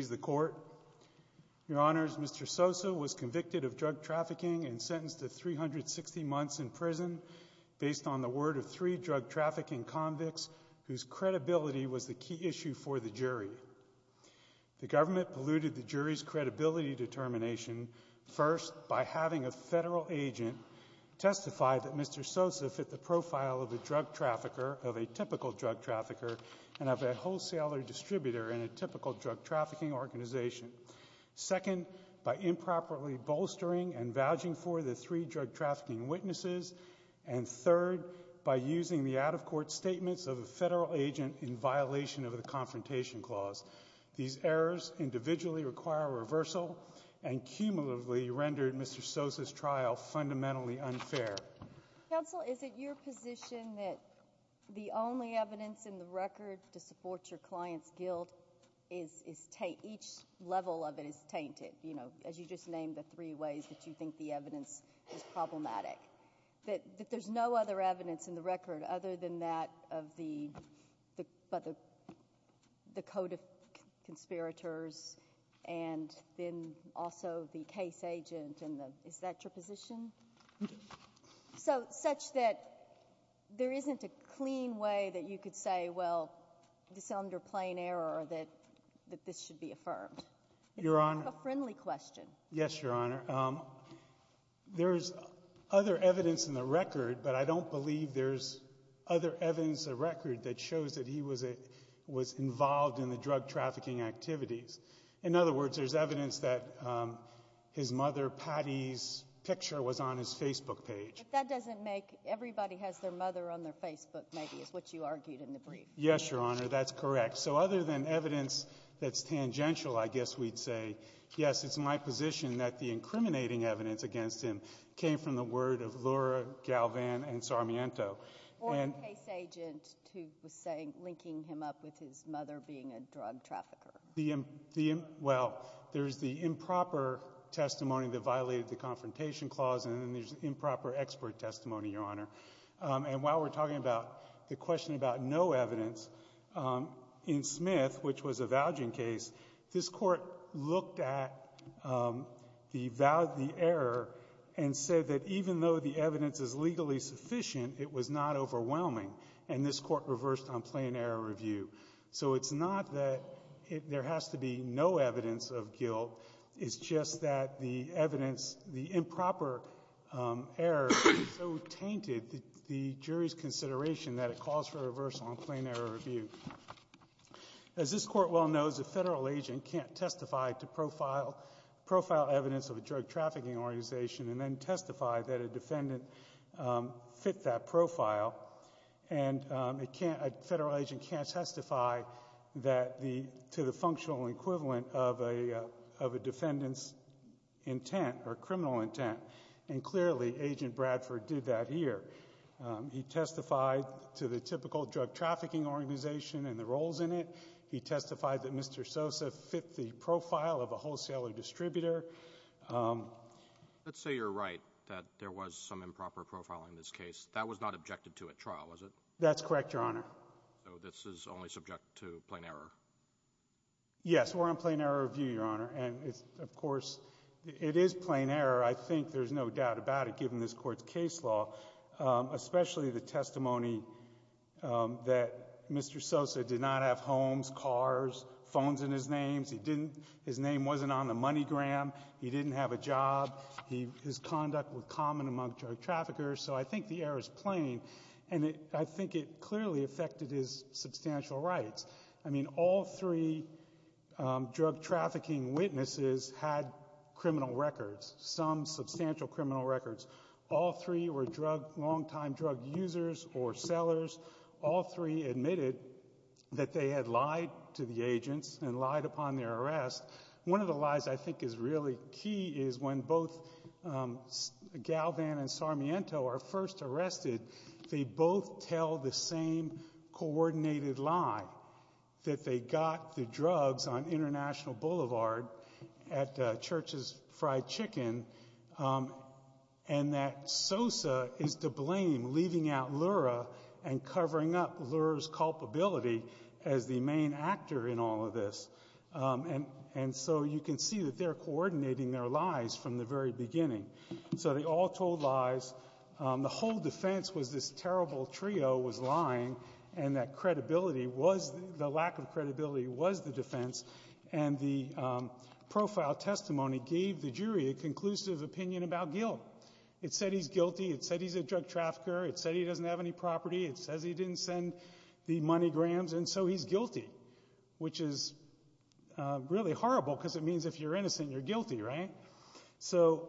Your Honor, Mr. Sosa was convicted of drug trafficking and sentenced to 360 months in prison based on the word of three drug trafficking convicts whose credibility was the key issue for the jury. The government polluted the jury's credibility determination first by having a federal agent testify that Mr. Sosa fit the profile of a typical drug trafficker and of a wholesaler distributor in a typical drug trafficking organization. Second, by improperly bolstering and vouching for the three drug trafficking witnesses. And third, by using the out-of-court statements of a federal agent in violation of the Confrontation Clause. These errors individually require reversal and cumulatively rendered Mr. Sosa's trial fundamentally unfair. Counsel, is it your position that the only evidence in the record to support your client's guilt is taint? Each level of it is tainted, you know, as you just named the three ways that you think the evidence is problematic. That there's no other evidence in the record other than that of the code of conspirators and then also the case agent, and is that your position? So such that there isn't a clean way that you could say, well, this is under plain error, that this should be affirmed. Your Honor. It's a friendly question. Yes, Your Honor. There's other evidence in the record, but I don't believe there's other evidence in the record that shows that he was involved in the drug trafficking activities. In other words, there's evidence that his mother, Patty's, picture was on his Facebook page. But that doesn't make everybody has their mother on their Facebook, maybe, is what you argued in the brief. Yes, Your Honor, that's correct. So other than evidence that's tangential, I guess we'd say, yes, it's my position that the incriminating evidence against him came from the word of Laura Galvan and Sarmiento. Or the case agent who was linking him up with his mother being a drug trafficker. Well, there's the improper testimony that violated the confrontation clause, and then there's improper expert testimony, Your Honor. And while we're talking about the question about no evidence, in Smith, which was a vouching case, this Court looked at the error and said that even though the evidence is legally sufficient, it was not overwhelming, and this Court reversed on plain error review. So it's not that there has to be no evidence of guilt. It's just that the evidence, the improper error, so tainted the jury's consideration that it calls for a reversal on plain error review. As this Court well knows, a federal agent can't testify to profile evidence of a drug trafficking organization and then testify that a defendant fit that profile, and a federal agent can't testify to the functional equivalent of a defendant's intent or criminal intent. And clearly, Agent Bradford did that here. He testified to the typical drug trafficking organization and the roles in it. He testified that Mr. Sosa fit the profile of a wholesaler distributor. Let's say you're right that there was some improper profiling in this case. That was not objected to at trial, was it? That's correct, Your Honor. So this is only subject to plain error? Yes. We're on plain error review, Your Honor. And, of course, it is plain error. I think there's no doubt about it, given this Court's case law, especially the testimony that Mr. Sosa did not have homes, cars, phones in his name. His name wasn't on the money gram. He didn't have a job. His conduct was common among drug traffickers. So I think the error is plain, and I think it clearly affected his substantial rights. I mean, all three drug trafficking witnesses had criminal records, some substantial criminal records. All three were longtime drug users or sellers. All three admitted that they had lied to the agents and lied upon their arrest. One of the lies I think is really key is when both Galvan and Sarmiento are first arrested, they both tell the same coordinated lie, that they got the drugs on International Boulevard at Church's Fried Chicken, and that Sosa is to blame, leaving out Lura and covering up Lura's culpability as the main actor in all of this. And so you can see that they're coordinating their lies from the very beginning. So they all told lies. The whole defense was this terrible trio was lying, and that credibility was the lack of credibility was the defense. And the profile testimony gave the jury a conclusive opinion about Gil. It said he's guilty. It said he's a drug trafficker. It said he doesn't have any property. It says he didn't send the money grams, and so he's guilty, which is really horrible because it means if you're innocent, you're guilty, right? So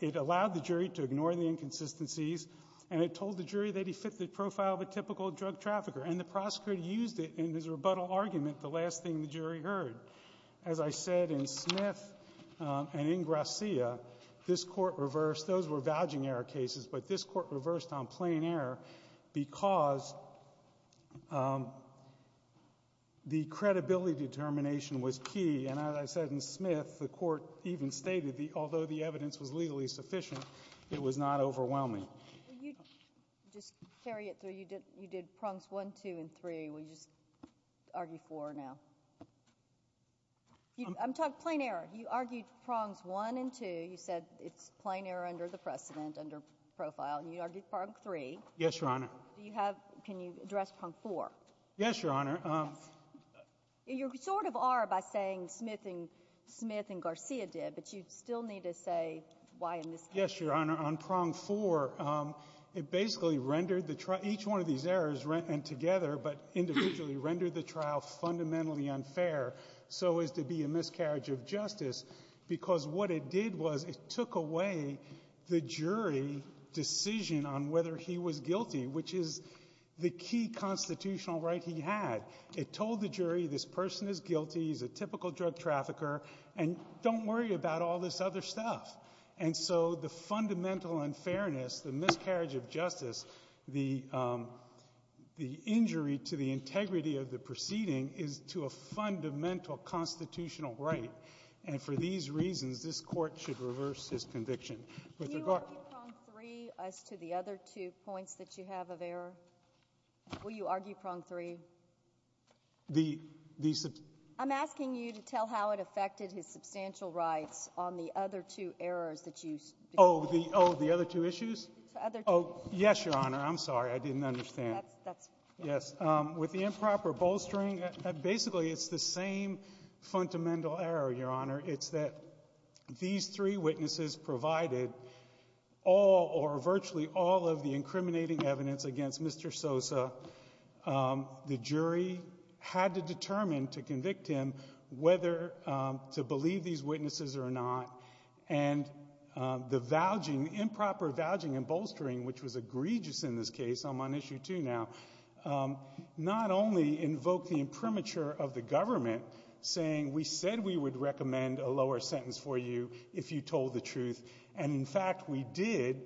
it allowed the jury to ignore the inconsistencies, and it told the jury that he fit the profile of a typical drug trafficker, and the prosecutor used it in his rebuttal argument, the last thing the jury heard. As I said in Smith and in Gracia, this court reversed. Those were vouching error cases, but this court reversed on plain error because the credibility determination was key, and as I said in Smith, the court even stated that although the evidence was legally sufficient, it was not overwhelming. Just to carry it through, you did prongs one, two, and three. Will you just argue four now? I'm talking plain error. You argued prongs one and two. You said it's plain error under the precedent, under profile, and you argued prong three. Yes, Your Honor. Do you have ‑‑ can you address prong four? Yes, Your Honor. You sort of are by saying Smith and Gracia did, but you still need to say why in this case. Yes, Your Honor. On prong four, it basically rendered the ‑‑ each one of these errors, and together, but individually rendered the trial fundamentally unfair so as to be a miscarriage of justice because what it did was it took away the jury decision on whether he was guilty, which is the key constitutional right he had. It told the jury this person is guilty, he's a typical drug trafficker, and don't worry about all this other stuff. And so the fundamental unfairness, the miscarriage of justice, the injury to the integrity of the proceeding is to a fundamental constitutional right, and for these reasons, this Court should reverse his conviction. With regard ‑‑ Can you argue prong three as to the other two points that you have of error? Will you argue prong three? I'm asking you to tell how it affected his substantial rights on the other two errors that you ‑‑ Oh, the other two issues? Yes, Your Honor. I'm sorry. I didn't understand. Yes. With the improper bolstering, basically it's the same fundamental error, Your Honor. It's that these three witnesses provided all or virtually all of the incriminating evidence against Mr. Sosa, the jury had to determine to convict him whether to believe these witnesses or not, and the valging, improper valging and bolstering, which was egregious in this case, I'm on issue two now, not only invoked the imprimatur of the government, saying we said we would recommend a lower sentence for you if you told the truth, and, in fact, we did,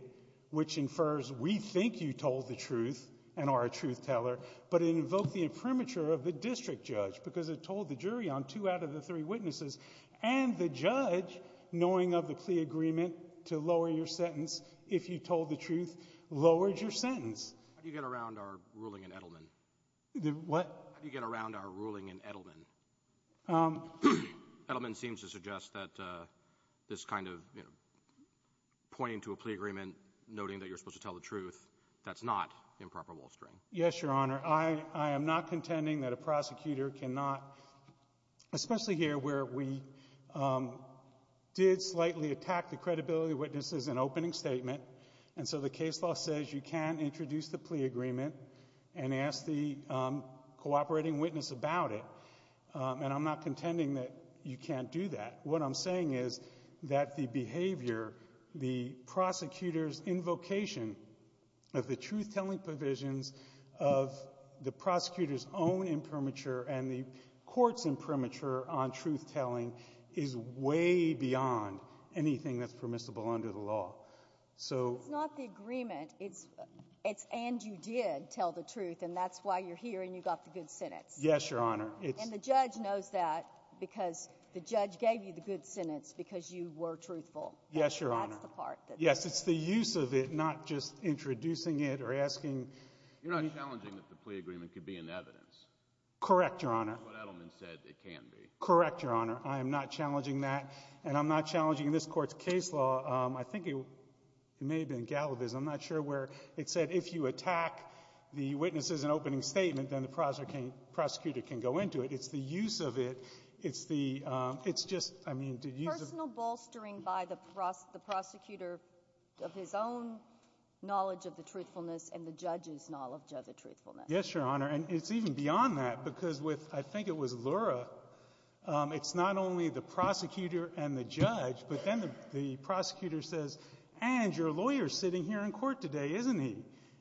which infers we think you told the truth and are a truth teller, but it invoked the imprimatur of the district judge because it told the jury on two out of the three witnesses, and the judge, knowing of the plea agreement to lower your sentence if you told the truth, lowered your sentence. How do you get around our ruling in Edelman? What? How do you get around our ruling in Edelman? Edelman seems to suggest that this kind of pointing to a plea agreement, noting that you're supposed to tell the truth, that's not improper bolstering. Yes, Your Honor. I am not contending that a prosecutor cannot, especially here where we did slightly attack the credibility of witnesses in opening statement, and so the case law says you can't introduce the plea agreement and ask the cooperating witness about it, and I'm not contending that you can't do that. What I'm saying is that the behavior, the prosecutor's invocation of the truth-telling provisions of the prosecutor's own imprimatur and the court's imprimatur on truth-telling is way beyond anything that's permissible under the law. It's not the agreement. It's and you did tell the truth, and that's why you're here and you got the good sentence. Yes, Your Honor. And the judge knows that because the judge gave you the good sentence because you were truthful. Yes, Your Honor. That's the part. Yes, it's the use of it, not just introducing it or asking. You're not challenging that the plea agreement could be in evidence? Correct, Your Honor. That's what Edelman said it can be. Correct, Your Honor. I am not challenging that, and I'm not challenging this Court's case law. I think it may have been Galavis. I'm not sure where it said if you attack the witnesses in opening statement, then the prosecutor can go into it. It's the use of it. It's the – it's just, I mean, the use of it. Personal bolstering by the prosecutor of his own knowledge of the truthfulness and the judge's knowledge of the truthfulness. Yes, Your Honor. And it's even beyond that because with, I think it was Lura, it's not only the prosecutor and the judge, but then the prosecutor says, and your lawyer's sitting here in court today, isn't he?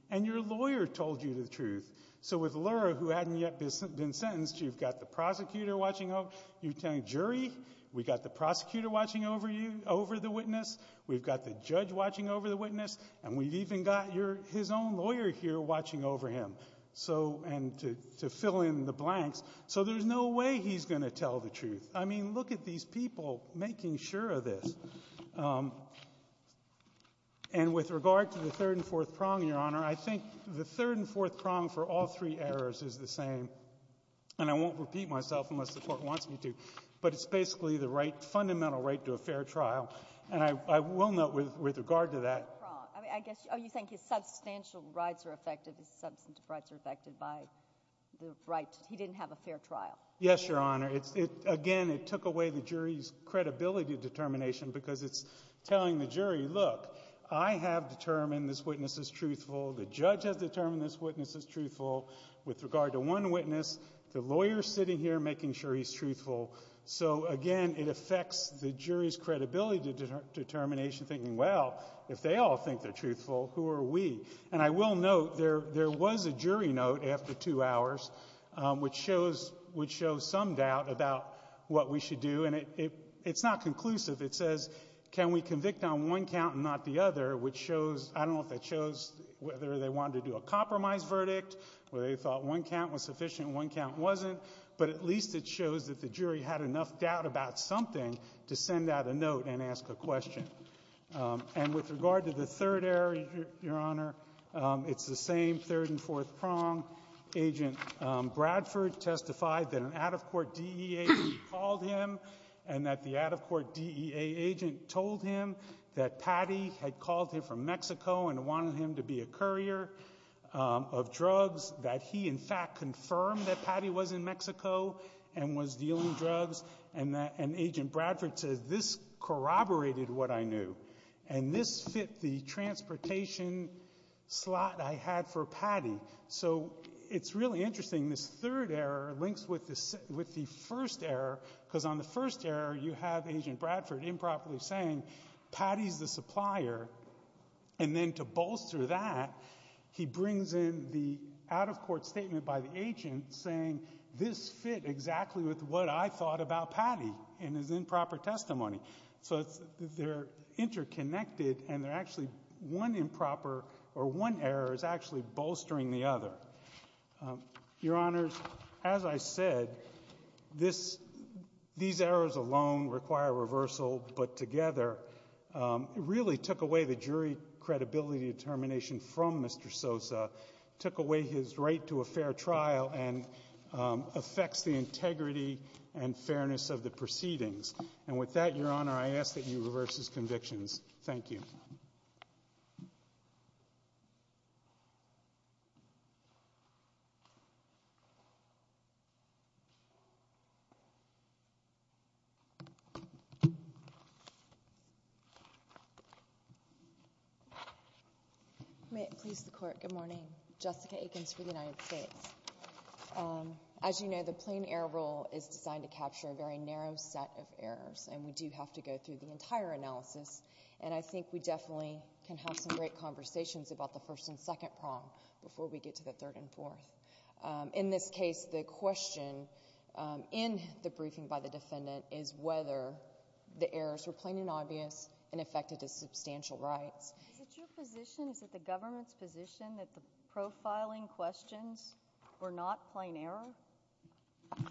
And your lawyer told you the truth. So with Lura, who hadn't yet been sentenced, you've got the prosecutor watching over, you're telling jury, we've got the prosecutor watching over the witness, we've got the judge watching over the witness, and we've even got his own lawyer here watching over him. So, and to fill in the blanks, so there's no way he's going to tell the truth. I mean, look at these people making sure of this. And with regard to the third and fourth prong, Your Honor, I think the third and fourth prong for all three errors is the same. And I won't repeat myself unless the Court wants me to. But it's basically the right, fundamental right to a fair trial. And I will note with regard to that. Oh, you think his substantial rights are affected, his substantive rights are affected by the right. He didn't have a fair trial. Yes, Your Honor. Again, it took away the jury's credibility determination because it's telling the jury, look, I have determined this witness is truthful, the judge has determined this witness is truthful. With regard to one witness, the lawyer's sitting here making sure he's truthful. So, again, it affects the jury's credibility determination thinking, well, if they all think they're truthful, who are we? And I will note there was a jury note after two hours which shows some doubt about what we should do. And it's not conclusive. It says, can we convict on one count and not the other, which shows, I don't know if that shows whether they wanted to do a compromise verdict, whether they thought one count was sufficient and one count wasn't. But at least it shows that the jury had enough doubt about something to send out a note and ask a question. And with regard to the third error, Your Honor, it's the same third and fourth prong. Agent Bradford testified that an out-of-court DEA agent called him and that the out-of-court DEA agent told him that Patty had called him from Mexico and wanted him to be a courier of drugs, that he, in fact, confirmed that Patty was in Mexico and was dealing drugs. And Agent Bradford says, this corroborated what I knew. And this fit the transportation slot I had for Patty. So it's really interesting. This third error links with the first error because on the first error you have Agent Bradford improperly saying, Patty's the supplier. And then to bolster that, he brings in the out-of-court statement by the agent saying, this fit exactly with what I thought about Patty in his improper testimony. So they're interconnected and they're actually one improper or one error is actually bolstering the other. Your Honors, as I said, these errors alone require reversal. But together, it really took away the jury credibility determination from Mr. Sosa, took away his right to a fair trial and affects the integrity and fairness of the proceedings. And with that, Your Honor, I ask that you reverse his convictions. Thank you. Thank you. May it please the Court, good morning. Jessica Aikens for the United States. As you know, the plain error rule is designed to capture a very narrow set of errors, and we do have to go through the entire analysis. And I think we definitely can have some great conversations about the first and second prong before we get to the third and fourth. In this case, the question in the briefing by the defendant is whether the errors were plain and obvious and affected his substantial rights. Is it your position, is it the government's position that the profiling questions were not plain error?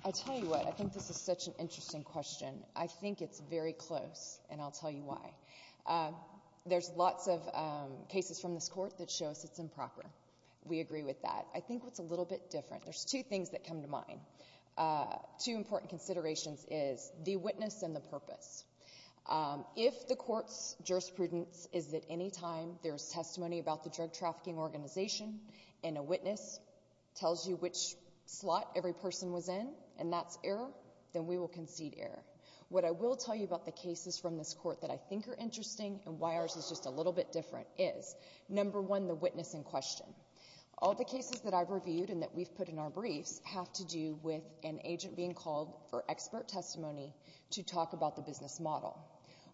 I'll tell you what, I think this is such an interesting question. I think it's very close, and I'll tell you why. There's lots of cases from this Court that show us it's improper. We agree with that. I think it's a little bit different. There's two things that come to mind, two important considerations is the witness and the purpose. If the Court's jurisprudence is that any time there's testimony about the drug trafficking organization and a witness tells you which slot every person was in, and that's error, then we will concede error. What I will tell you about the cases from this Court that I think are interesting and why ours is just a little bit different is, number one, the witness in question. All the cases that I've reviewed and that we've put in our briefs have to do with an agent being called for expert testimony to talk about the business model.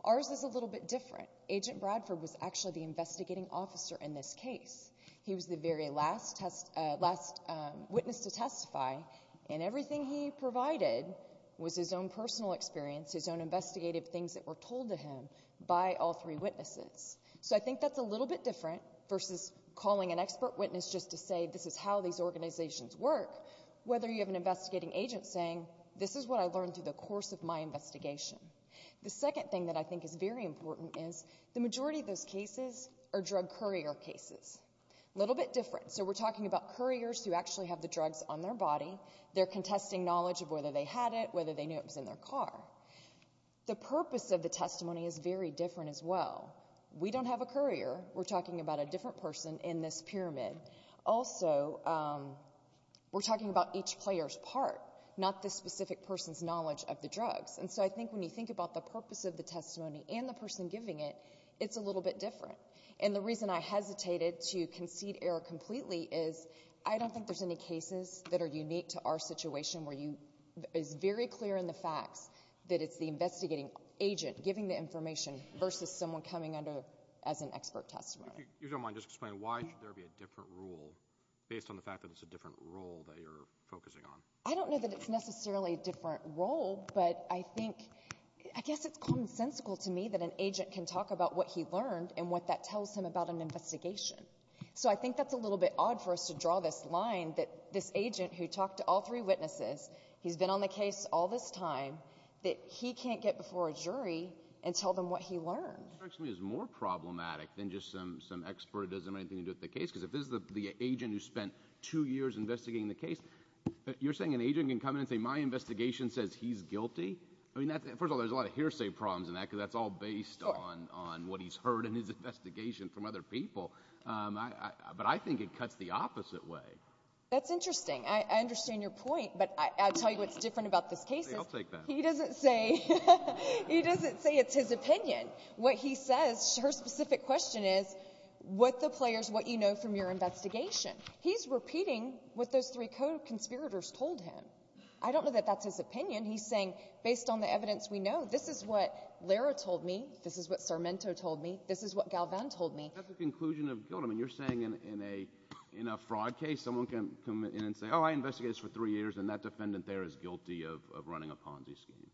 Ours is a little bit different. Agent Bradford was actually the investigating officer in this case. He was the very last witness to testify, and everything he provided was his own personal experience, his own investigative things that were told to him by all three witnesses. So I think that's a little bit different versus calling an expert witness just to say, this is how these organizations work, whether you have an investigating agent saying, this is what I learned through the course of my investigation. The second thing that I think is very important is the majority of those cases are drug courier cases. A little bit different. So we're talking about couriers who actually have the drugs on their body. They're contesting knowledge of whether they had it, whether they knew it was in their car. The purpose of the testimony is very different as well. We don't have a courier. We're talking about a different person in this pyramid. Also, we're talking about each player's part, not the specific person's knowledge of the drugs. And so I think when you think about the purpose of the testimony and the person giving it, it's a little bit different. And the reason I hesitated to concede error completely is I don't think there's any cases that are unique to our situation where it's very clear in the facts that it's the investigating agent giving the information versus someone coming under as an expert testimony. If you don't mind, just explain why should there be a different rule based on the fact that it's a different role that you're focusing on? I don't know that it's necessarily a different role, but I think, I guess it's consensical to me that an agent can talk about what he learned and what that tells him about an investigation. So I think that's a little bit odd for us to draw this line that this agent who talked to all three witnesses, he's been on the case all this time, that he can't get before a jury and tell them what he learned. It strikes me as more problematic than just some expert who doesn't have anything to do with the case because if this is the agent who spent two years investigating the case, you're saying an agent can come in and say my investigation says he's guilty? First of all, there's a lot of hearsay problems in that because that's all based on what he's heard in his investigation from other people. But I think it cuts the opposite way. That's interesting. I understand your point, but I'll tell you what's different about this case. I'll take that. He doesn't say it's his opinion. What he says, her specific question is what the players, what you know from your investigation. He's repeating what those three co-conspirators told him. I don't know that that's his opinion. He's saying based on the evidence we know, this is what Lara told me, this is what Sarmento told me, this is what Galvan told me. That's a conclusion of guilt. I mean you're saying in a fraud case someone can come in and say, oh, I investigated this for three years, and that defendant there is guilty of running a Ponzi scheme.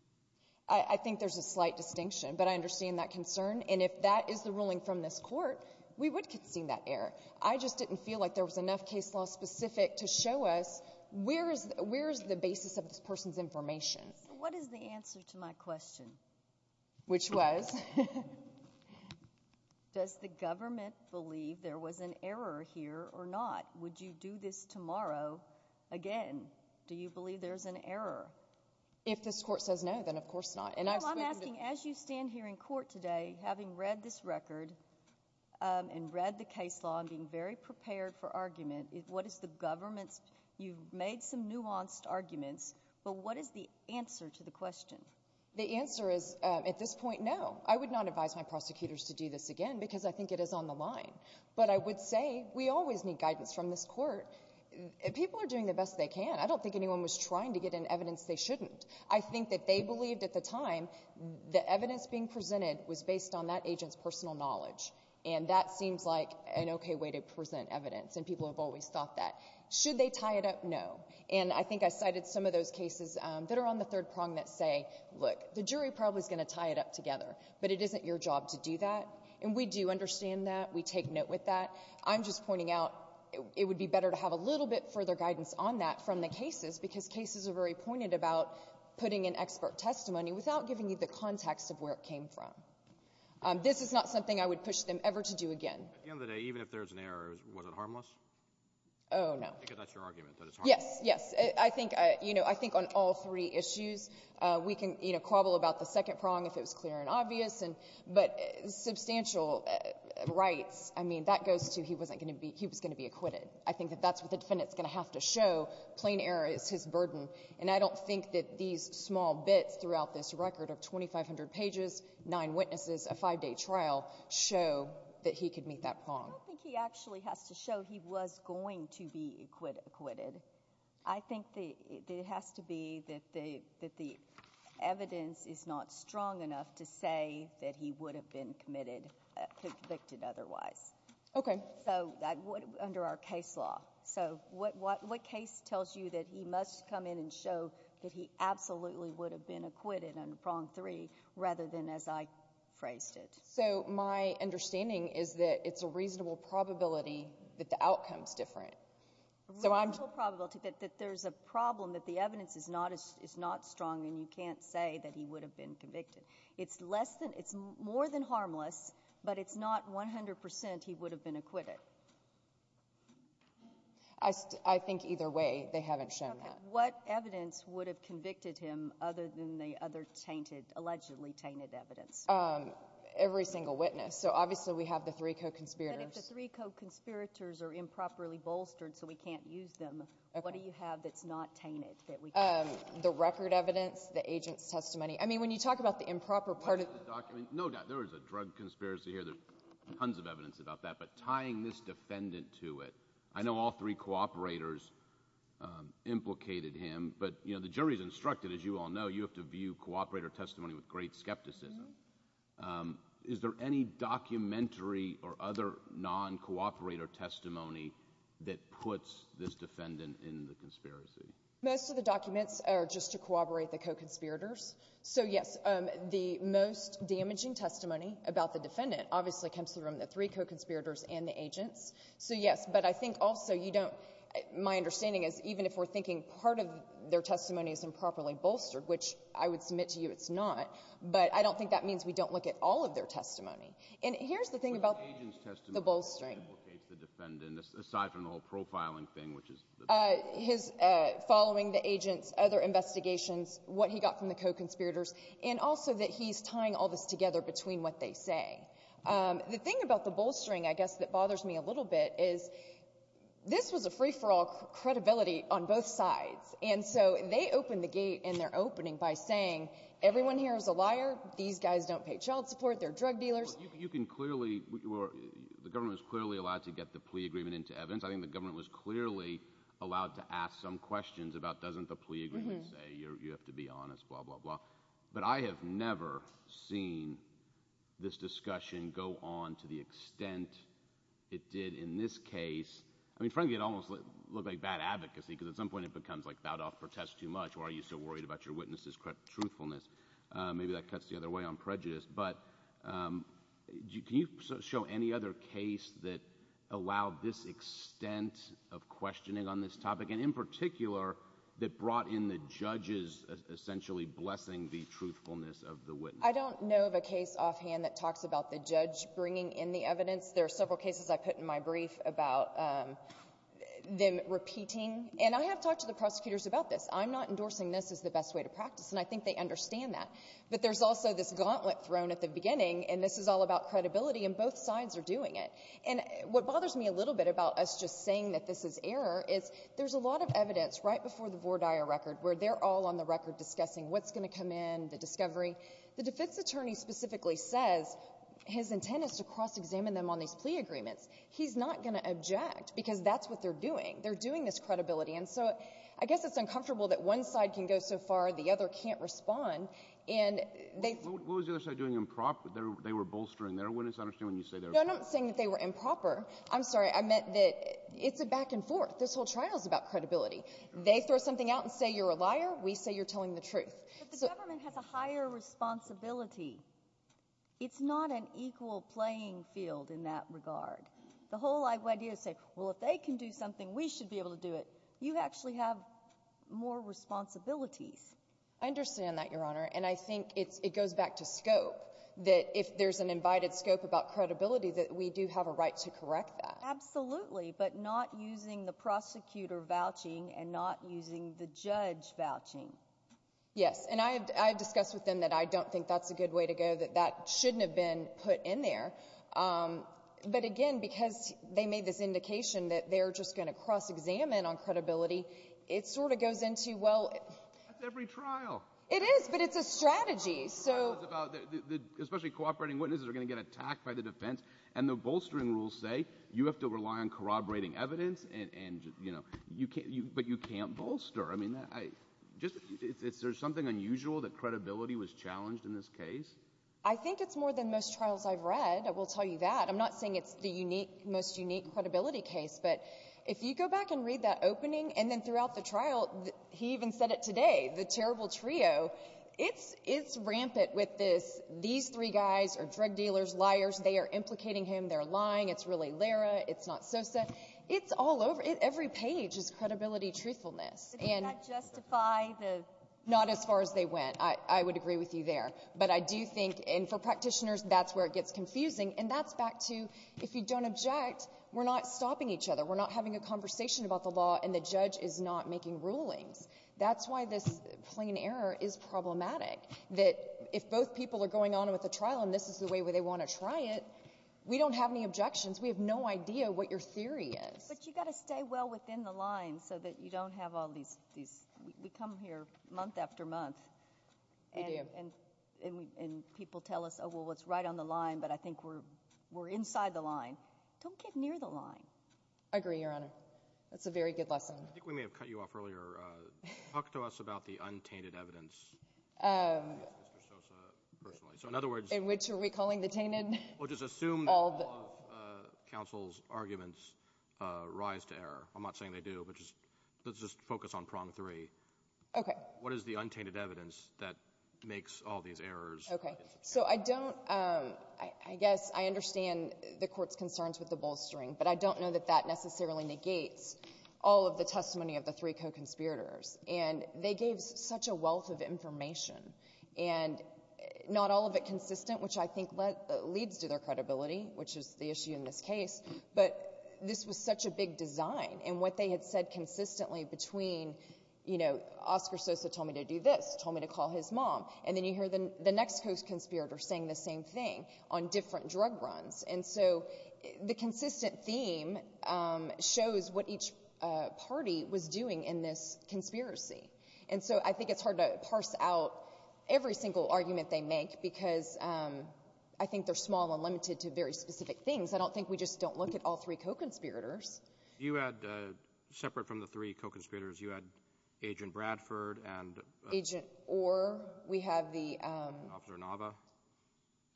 I think there's a slight distinction, but I understand that concern. And if that is the ruling from this court, we would concede that error. I just didn't feel like there was enough case law specific to show us where is the basis of this person's information. What is the answer to my question? Which was? Does the government believe there was an error here or not? Would you do this tomorrow again? Do you believe there's an error? If this court says no, then of course not. Well, I'm asking as you stand here in court today, having read this record and read the case law and being very prepared for argument, what is the government's? You've made some nuanced arguments, but what is the answer to the question? The answer is at this point no. I would not advise my prosecutors to do this again because I think it is on the line. But I would say we always need guidance from this court. People are doing the best they can. I don't think anyone was trying to get in evidence they shouldn't. I think that they believed at the time the evidence being presented was based on that agent's personal knowledge. And that seems like an okay way to present evidence, and people have always thought that. Should they tie it up? No. And I think I cited some of those cases that are on the third prong that say, look, the jury probably is going to tie it up together, but it isn't your job to do that. And we do understand that. We take note with that. I'm just pointing out it would be better to have a little bit further guidance on that from the cases because cases are very pointed about putting an expert testimony without giving you the context of where it came from. This is not something I would push them ever to do again. At the end of the day, even if there's an error, was it harmless? Oh, no. Because that's your argument, that it's harmless. Yes, yes. I think on all three issues we can quabble about the second prong if it was clear and obvious. But substantial rights, I mean, that goes to he was going to be acquitted. I think that that's what the defendant is going to have to show. Plain error is his burden. And I don't think that these small bits throughout this record of 2,500 pages, nine witnesses, a five-day trial, show that he could meet that prong. I don't think he actually has to show he was going to be acquitted. I think it has to be that the evidence is not strong enough to say that he would have been convicted otherwise. Okay. So under our case law. So what case tells you that he must come in and show that he absolutely would have been acquitted on prong three rather than as I phrased it? So my understanding is that it's a reasonable probability that the outcome is different. A reasonable probability that there's a problem that the evidence is not strong and you can't say that he would have been convicted. It's less than, it's more than harmless, but it's not 100% he would have been acquitted. I think either way they haven't shown that. Okay. What evidence would have convicted him other than the other tainted, allegedly tainted evidence? Every single witness. So obviously we have the three co-conspirators. But if the three co-conspirators are improperly bolstered so we can't use them, what do you have that's not tainted that we can't use? The record evidence, the agent's testimony. I mean, when you talk about the improper part of the document. No doubt there was a drug conspiracy here. There's tons of evidence about that. But tying this defendant to it, I know all three cooperators implicated him. But, you know, the jury's instructed, as you all know, you have to view cooperator testimony with great skepticism. Is there any documentary or other non-cooperator testimony that puts this defendant in the conspiracy? Most of the documents are just to corroborate the co-conspirators. So, yes, the most damaging testimony about the defendant obviously comes from the three co-conspirators and the agents. So, yes, but I think also you don't, my understanding is even if we're thinking part of their testimony is improperly bolstered, which I would submit to you it's not, but I don't think that means we don't look at all of their testimony. And here's the thing about the bolstering. But the agent's testimony also implicates the defendant, aside from the whole profiling thing, which is the defense. Following the agent's other investigations, what he got from the co-conspirators, and also that he's tying all this together between what they say. The thing about the bolstering, I guess, that bothers me a little bit is this was a free-for-all credibility on both sides. And so they opened the gate in their opening by saying everyone here is a liar, these guys don't pay child support, they're drug dealers. You can clearly, the government was clearly allowed to get the plea agreement into evidence. I think the government was clearly allowed to ask some questions about doesn't the plea agreement say you have to be honest, blah, blah, blah. But I have never seen this discussion go on to the extent it did in this case. I mean, frankly, it almost looked like bad advocacy because at some point it becomes like bowed off protest too much or are you so worried about your witness's truthfulness. Maybe that cuts the other way on prejudice. But can you show any other case that allowed this extent of questioning on this topic, and in particular that brought in the judges essentially blessing the truthfulness of the witness? I don't know of a case offhand that talks about the judge bringing in the evidence. There are several cases I put in my brief about them repeating. And I have talked to the prosecutors about this. I'm not endorsing this as the best way to practice, and I think they understand that. But there's also this gauntlet thrown at the beginning, and this is all about credibility, and both sides are doing it. And what bothers me a little bit about us just saying that this is error is there's a lot of evidence right before the Vordire record where they're all on the record discussing what's going to come in, the discovery. The defense attorney specifically says his intent is to cross-examine them on these plea agreements. He's not going to object because that's what they're doing. They're doing this credibility. And so I guess it's uncomfortable that one side can go so far, the other can't respond. What was the other side doing improper? They were bolstering their witness. I don't understand what you say there. No, I'm not saying that they were improper. I'm sorry. I meant that it's a back and forth. This whole trial is about credibility. They throw something out and say you're a liar. We say you're telling the truth. But the government has a higher responsibility. It's not an equal playing field in that regard. The whole idea is to say, well, if they can do something, we should be able to do it. You actually have more responsibilities. I understand that, Your Honor. And I think it goes back to scope, that if there's an invited scope about credibility, that we do have a right to correct that. Absolutely, but not using the prosecutor vouching and not using the judge vouching. Yes, and I've discussed with them that I don't think that's a good way to go, that that shouldn't have been put in there. But, again, because they made this indication that they're just going to cross-examine on credibility, it sort of goes into, well... That's every trial. It is, but it's a strategy, so... The trial is about especially cooperating witnesses are going to get attacked by the defense, and the bolstering rules say you have to rely on corroborating evidence, but you can't bolster. I mean, is there something unusual that credibility was challenged in this case? I think it's more than most trials I've read, I will tell you that. I'm not saying it's the most unique credibility case, but if you go back and read that opening, and then throughout the trial, he even said it today, the terrible trio, it's rampant with these three guys are drug dealers, liars, they are implicating him, they're lying, it's really Lara, it's not Sosa. It's all over... Does that justify the... Not as far as they went. I would agree with you there, but I do think, and for practitioners, that's where it gets confusing, and that's back to if you don't object, we're not stopping each other. We're not having a conversation about the law, and the judge is not making rulings. That's why this plain error is problematic, that if both people are going on with a trial, and this is the way they want to try it, we don't have any objections. We have no idea what your theory is. But you've got to stay well within the line so that you don't have all these... We come here month after month. We do. And people tell us, oh, well, it's right on the line, but I think we're inside the line. Don't get near the line. I agree, Your Honor. That's a very good lesson. I think we may have cut you off earlier. Talk to us about the untainted evidence against Mr. Sosa personally. In which are we calling the tainted? Well, just assume that all of counsel's arguments rise to error. I'm not saying they do, but just let's just focus on prong three. Okay. What is the untainted evidence that makes all these errors? Okay. So I don't... I guess I understand the Court's concerns with the bolstering, but I don't know that that necessarily negates all of the testimony of the three co-conspirators. And they gave such a wealth of information, and not all of it consistent, which I think leads to their credibility, which is the issue in this case. But this was such a big design, and what they had said consistently between, you know, Oscar Sosa told me to do this, told me to call his mom, and then you hear the next co-conspirator saying the same thing on different drug runs. And so the consistent theme shows what each party was doing in this conspiracy. And so I think it's hard to parse out every single argument they make, because I think they're small and limited to very specific things. I don't think we just don't look at all three co-conspirators. You had, separate from the three co-conspirators, you had Agent Bradford and... Agent Orr. We have the... Officer Nava.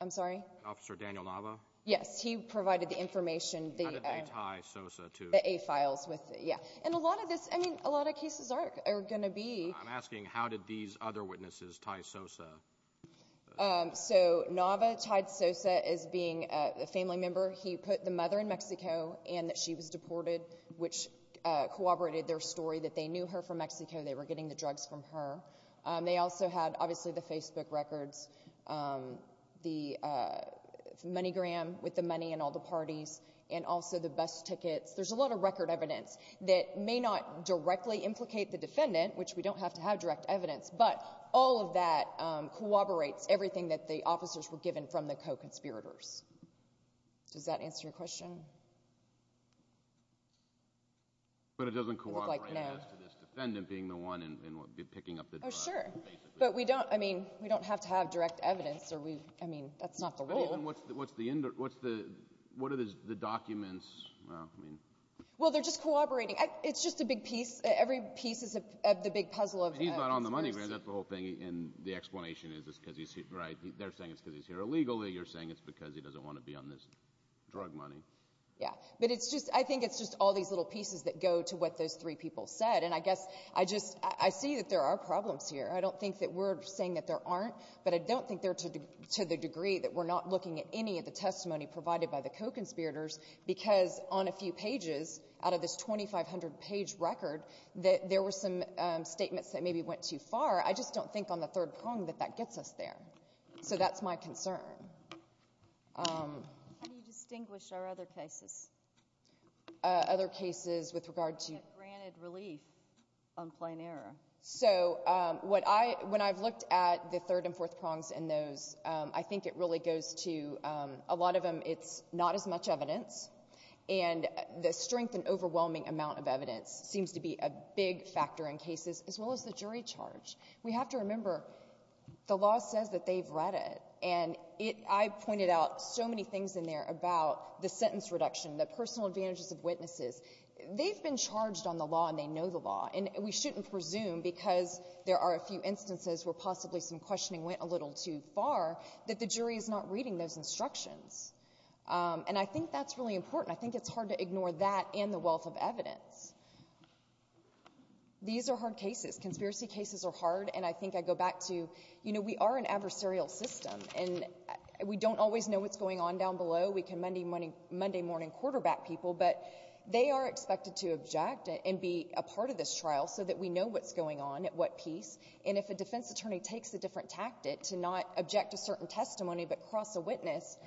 I'm sorry? Officer Daniel Nava. Yes. He provided the information. How did they tie Sosa to... The A files with... yeah. And a lot of this... I mean, a lot of cases are going to be... I'm asking how did these other witnesses tie Sosa. So Nava tied Sosa as being a family member. He put the mother in Mexico and that she was deported, which corroborated their story that they knew her from Mexico. They were getting the drugs from her. They also had, obviously, the Facebook records, the money gram with the money and all the parties, and also the bus tickets. There's a lot of record evidence that may not directly implicate the defendant, which we don't have to have direct evidence, but all of that corroborates everything that the officers were given from the co-conspirators. Does that answer your question? But it doesn't corroborate as to this defendant being the one picking up the drugs. Oh, sure. But we don't... I mean, we don't have to have direct evidence. I mean, that's not the rule. What are the documents? Well, they're just corroborating. It's just a big piece. Every piece is the big puzzle. He's not on the money gram. That's the whole thing, and the explanation is it's because he's here, right? They're saying it's because he's here illegally. You're saying it's because he doesn't want to be on this drug money. Yeah, but I think it's just all these little pieces that go to what those three people said, and I guess I see that there are problems here. I don't think that we're saying that there aren't, but I don't think they're to the degree that we're not looking at any of the testimony provided by the co-conspirators because on a few pages, out of this 2,500-page record, there were some statements that maybe went too far. I just don't think on the third prong that that gets us there. So that's my concern. How do you distinguish our other cases? Other cases with regard to... Granted relief on plain error. So when I've looked at the third and fourth prongs in those, I think it really goes to a lot of them it's not as much evidence, and the strength and overwhelming amount of evidence seems to be a big factor in cases, as well as the jury charge. We have to remember the law says that they've read it, and I pointed out so many things in there about the sentence reduction, the personal advantages of witnesses. They've been charged on the law and they know the law, and we shouldn't presume because there are a few instances where possibly some questioning went a little too far that the jury is not reading those instructions. And I think that's really important. I think it's hard to ignore that and the wealth of evidence. These are hard cases. Conspiracy cases are hard, and I think I go back to we are an adversarial system, and we don't always know what's going on down below. We can Monday morning quarterback people, but they are expected to object and be a part of this trial so that we know what's going on at what piece, and if a defense attorney takes a different tactic to not object to certain testimony but cross a witness,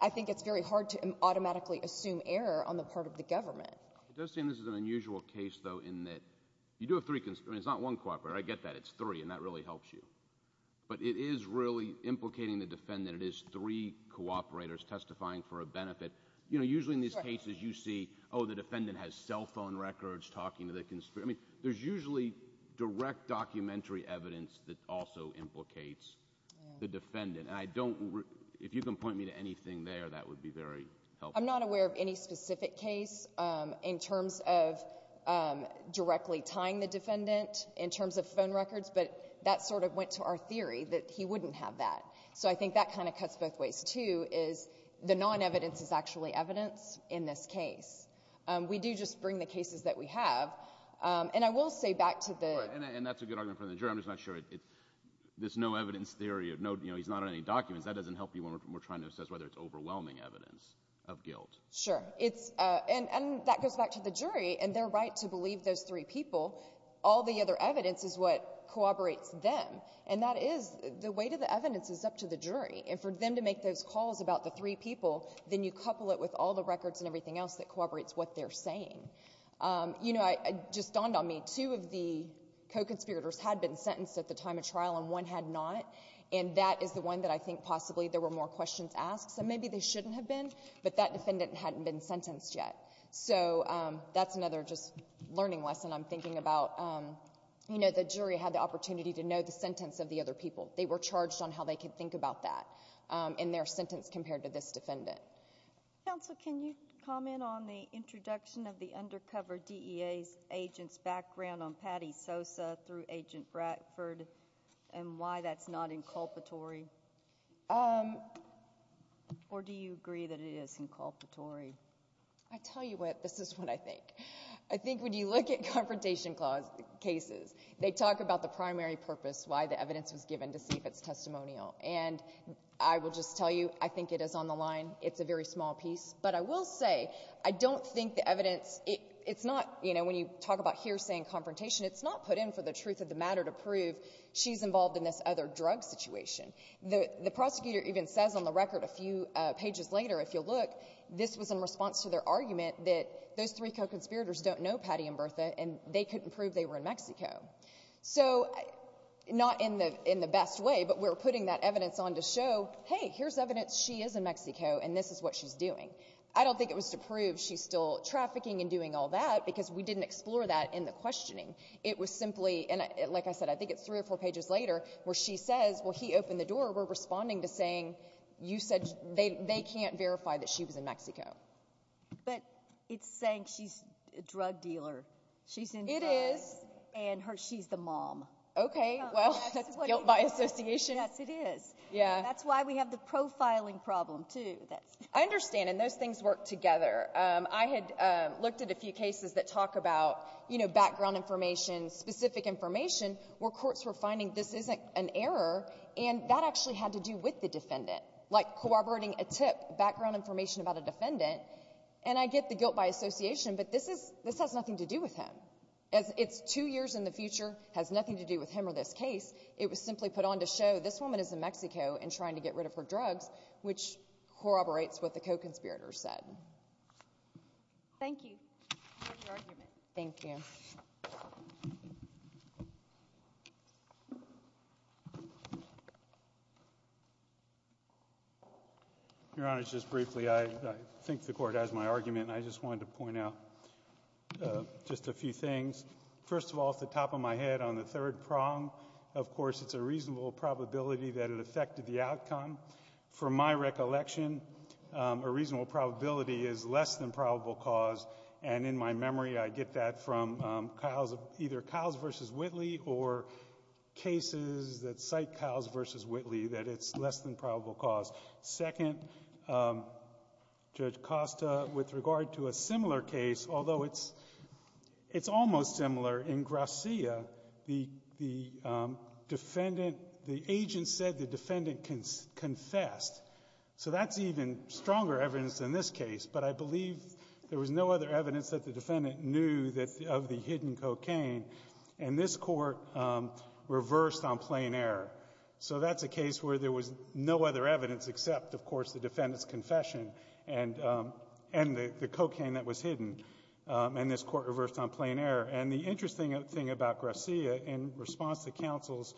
I think it's very hard to automatically assume error on the part of the government. It does seem this is an unusual case, though, in that you do have three, and it's not one cooperator. I get that. It's three, and that really helps you. But it is really implicating the defendant. It is three cooperators testifying for a benefit. You know, usually in these cases you see, oh, the defendant has cell phone records talking to the conspirator. I mean, there's usually direct documentary evidence that also implicates the defendant. And I don't, if you can point me to anything there, that would be very helpful. I'm not aware of any specific case in terms of directly tying the defendant in terms of phone records, but that sort of went to our theory that he wouldn't have that. So I think that kind of cuts both ways, too, is the non-evidence is actually evidence in this case. We do just bring the cases that we have. And I will say back to the ---- All right. And that's a good argument from the jury. I'm just not sure. This no evidence theory of, you know, he's not on any documents, that doesn't help you when we're trying to assess whether it's overwhelming evidence of guilt. Sure. And that goes back to the jury and their right to believe those three people. All the other evidence is what corroborates them. And that is, the weight of the evidence is up to the jury. And for them to make those calls about the three people, then you couple it with all the records and everything else that corroborates what they're saying. You know, it just dawned on me, two of the co-conspirators had been sentenced at the time of trial and one had not, and that is the one that I think possibly there were more questions asked. So maybe they shouldn't have been, but that defendant hadn't been sentenced yet. So that's another just learning lesson I'm thinking about. You know, the jury had the opportunity to know the sentence of the other people. They were charged on how they could think about that in their sentence compared to this defendant. Counsel, can you comment on the introduction of the undercover DEA's agent's background on Patty Sosa through Agent Bradford and why that's not inculpatory? Or do you agree that it is inculpatory? I tell you what, this is what I think. I think when you look at confrontation cases, they talk about the primary purpose why the evidence was given to see if it's testimonial. And I will just tell you, I think it is on the line. It's a very small piece. But I will say, I don't think the evidence, it's not, you know, when you talk about hearsay and confrontation, it's not put in for the truth of the matter to prove she's involved in this other drug situation. The prosecutor even says on the record a few pages later, if you'll look, this was in response to their argument that those three co-conspirators don't know Patty and Bertha and they couldn't prove they were in Mexico. So not in the best way, but we're putting that evidence on to show, hey, here's evidence, she is in Mexico and this is what she's doing. I don't think it was to prove she's still trafficking and doing all that because we didn't explore that in the questioning. It was simply, and like I said, I think it's three or four pages later where she says, well, he opened the door. We're responding to saying you said they can't verify that she was in Mexico. But it's saying she's a drug dealer. She's in drugs. It is. And she's the mom. Okay. Well, that's guilt by association. Yes, it is. Yeah. That's why we have the profiling problem, too. I understand, and those things work together. I had looked at a few cases that talk about, you know, background information, specific information where courts were finding this isn't an error, and that actually had to do with the defendant, like corroborating a tip, background information about a defendant. And I get the guilt by association, but this has nothing to do with him. It's two years in the future, has nothing to do with him or this case. It was simply put on to show this woman is in Mexico and trying to get rid of her drugs, which corroborates what the co-conspirator said. Thank you for your argument. Thank you. Your Honor, just briefly, I think the Court has my argument, and I just wanted to point out just a few things. First of all, off the top of my head, on the third prong, of course, it's a reasonable probability that it affected the outcome. From my recollection, a reasonable probability is less than probable cause, and in my memory I get that from either Kyle's v. Whitley or cases that cite Kyle's v. Whitley, that it's less than probable cause. Second, Judge Costa, with regard to a similar case, although it's almost similar, in Gracia, the agent said the defendant confessed. So that's even stronger evidence than this case, but I believe there was no other evidence that the defendant knew of the hidden cocaine, and this Court reversed on plain error. So that's a case where there was no other evidence except, of course, the defendant's confession and the cocaine that was hidden, and this Court reversed on plain error. And the interesting thing about Gracia in response to counsel's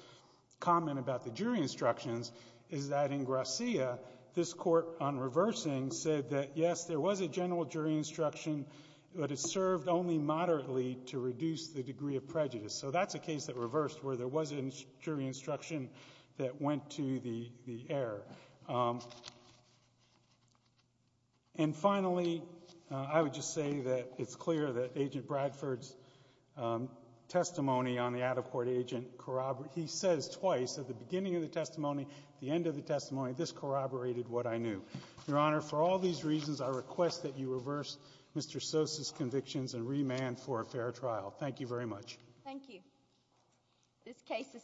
comment about the jury instructions is that in Gracia, this Court, on reversing, said that, yes, there was a general jury instruction, but it served only moderately to reduce the degree of prejudice. So that's a case that reversed where there was a jury instruction that went to the error. And finally, I would just say that it's clear that Agent Bradford's testimony on the out-of-court agent corroborates. He says twice at the beginning of the testimony, at the end of the testimony, this corroborated what I knew. Your Honor, for all these reasons, I request that you reverse Mr. Sosa's convictions and remand for a fair trial. Thank you very much. This case is submitted.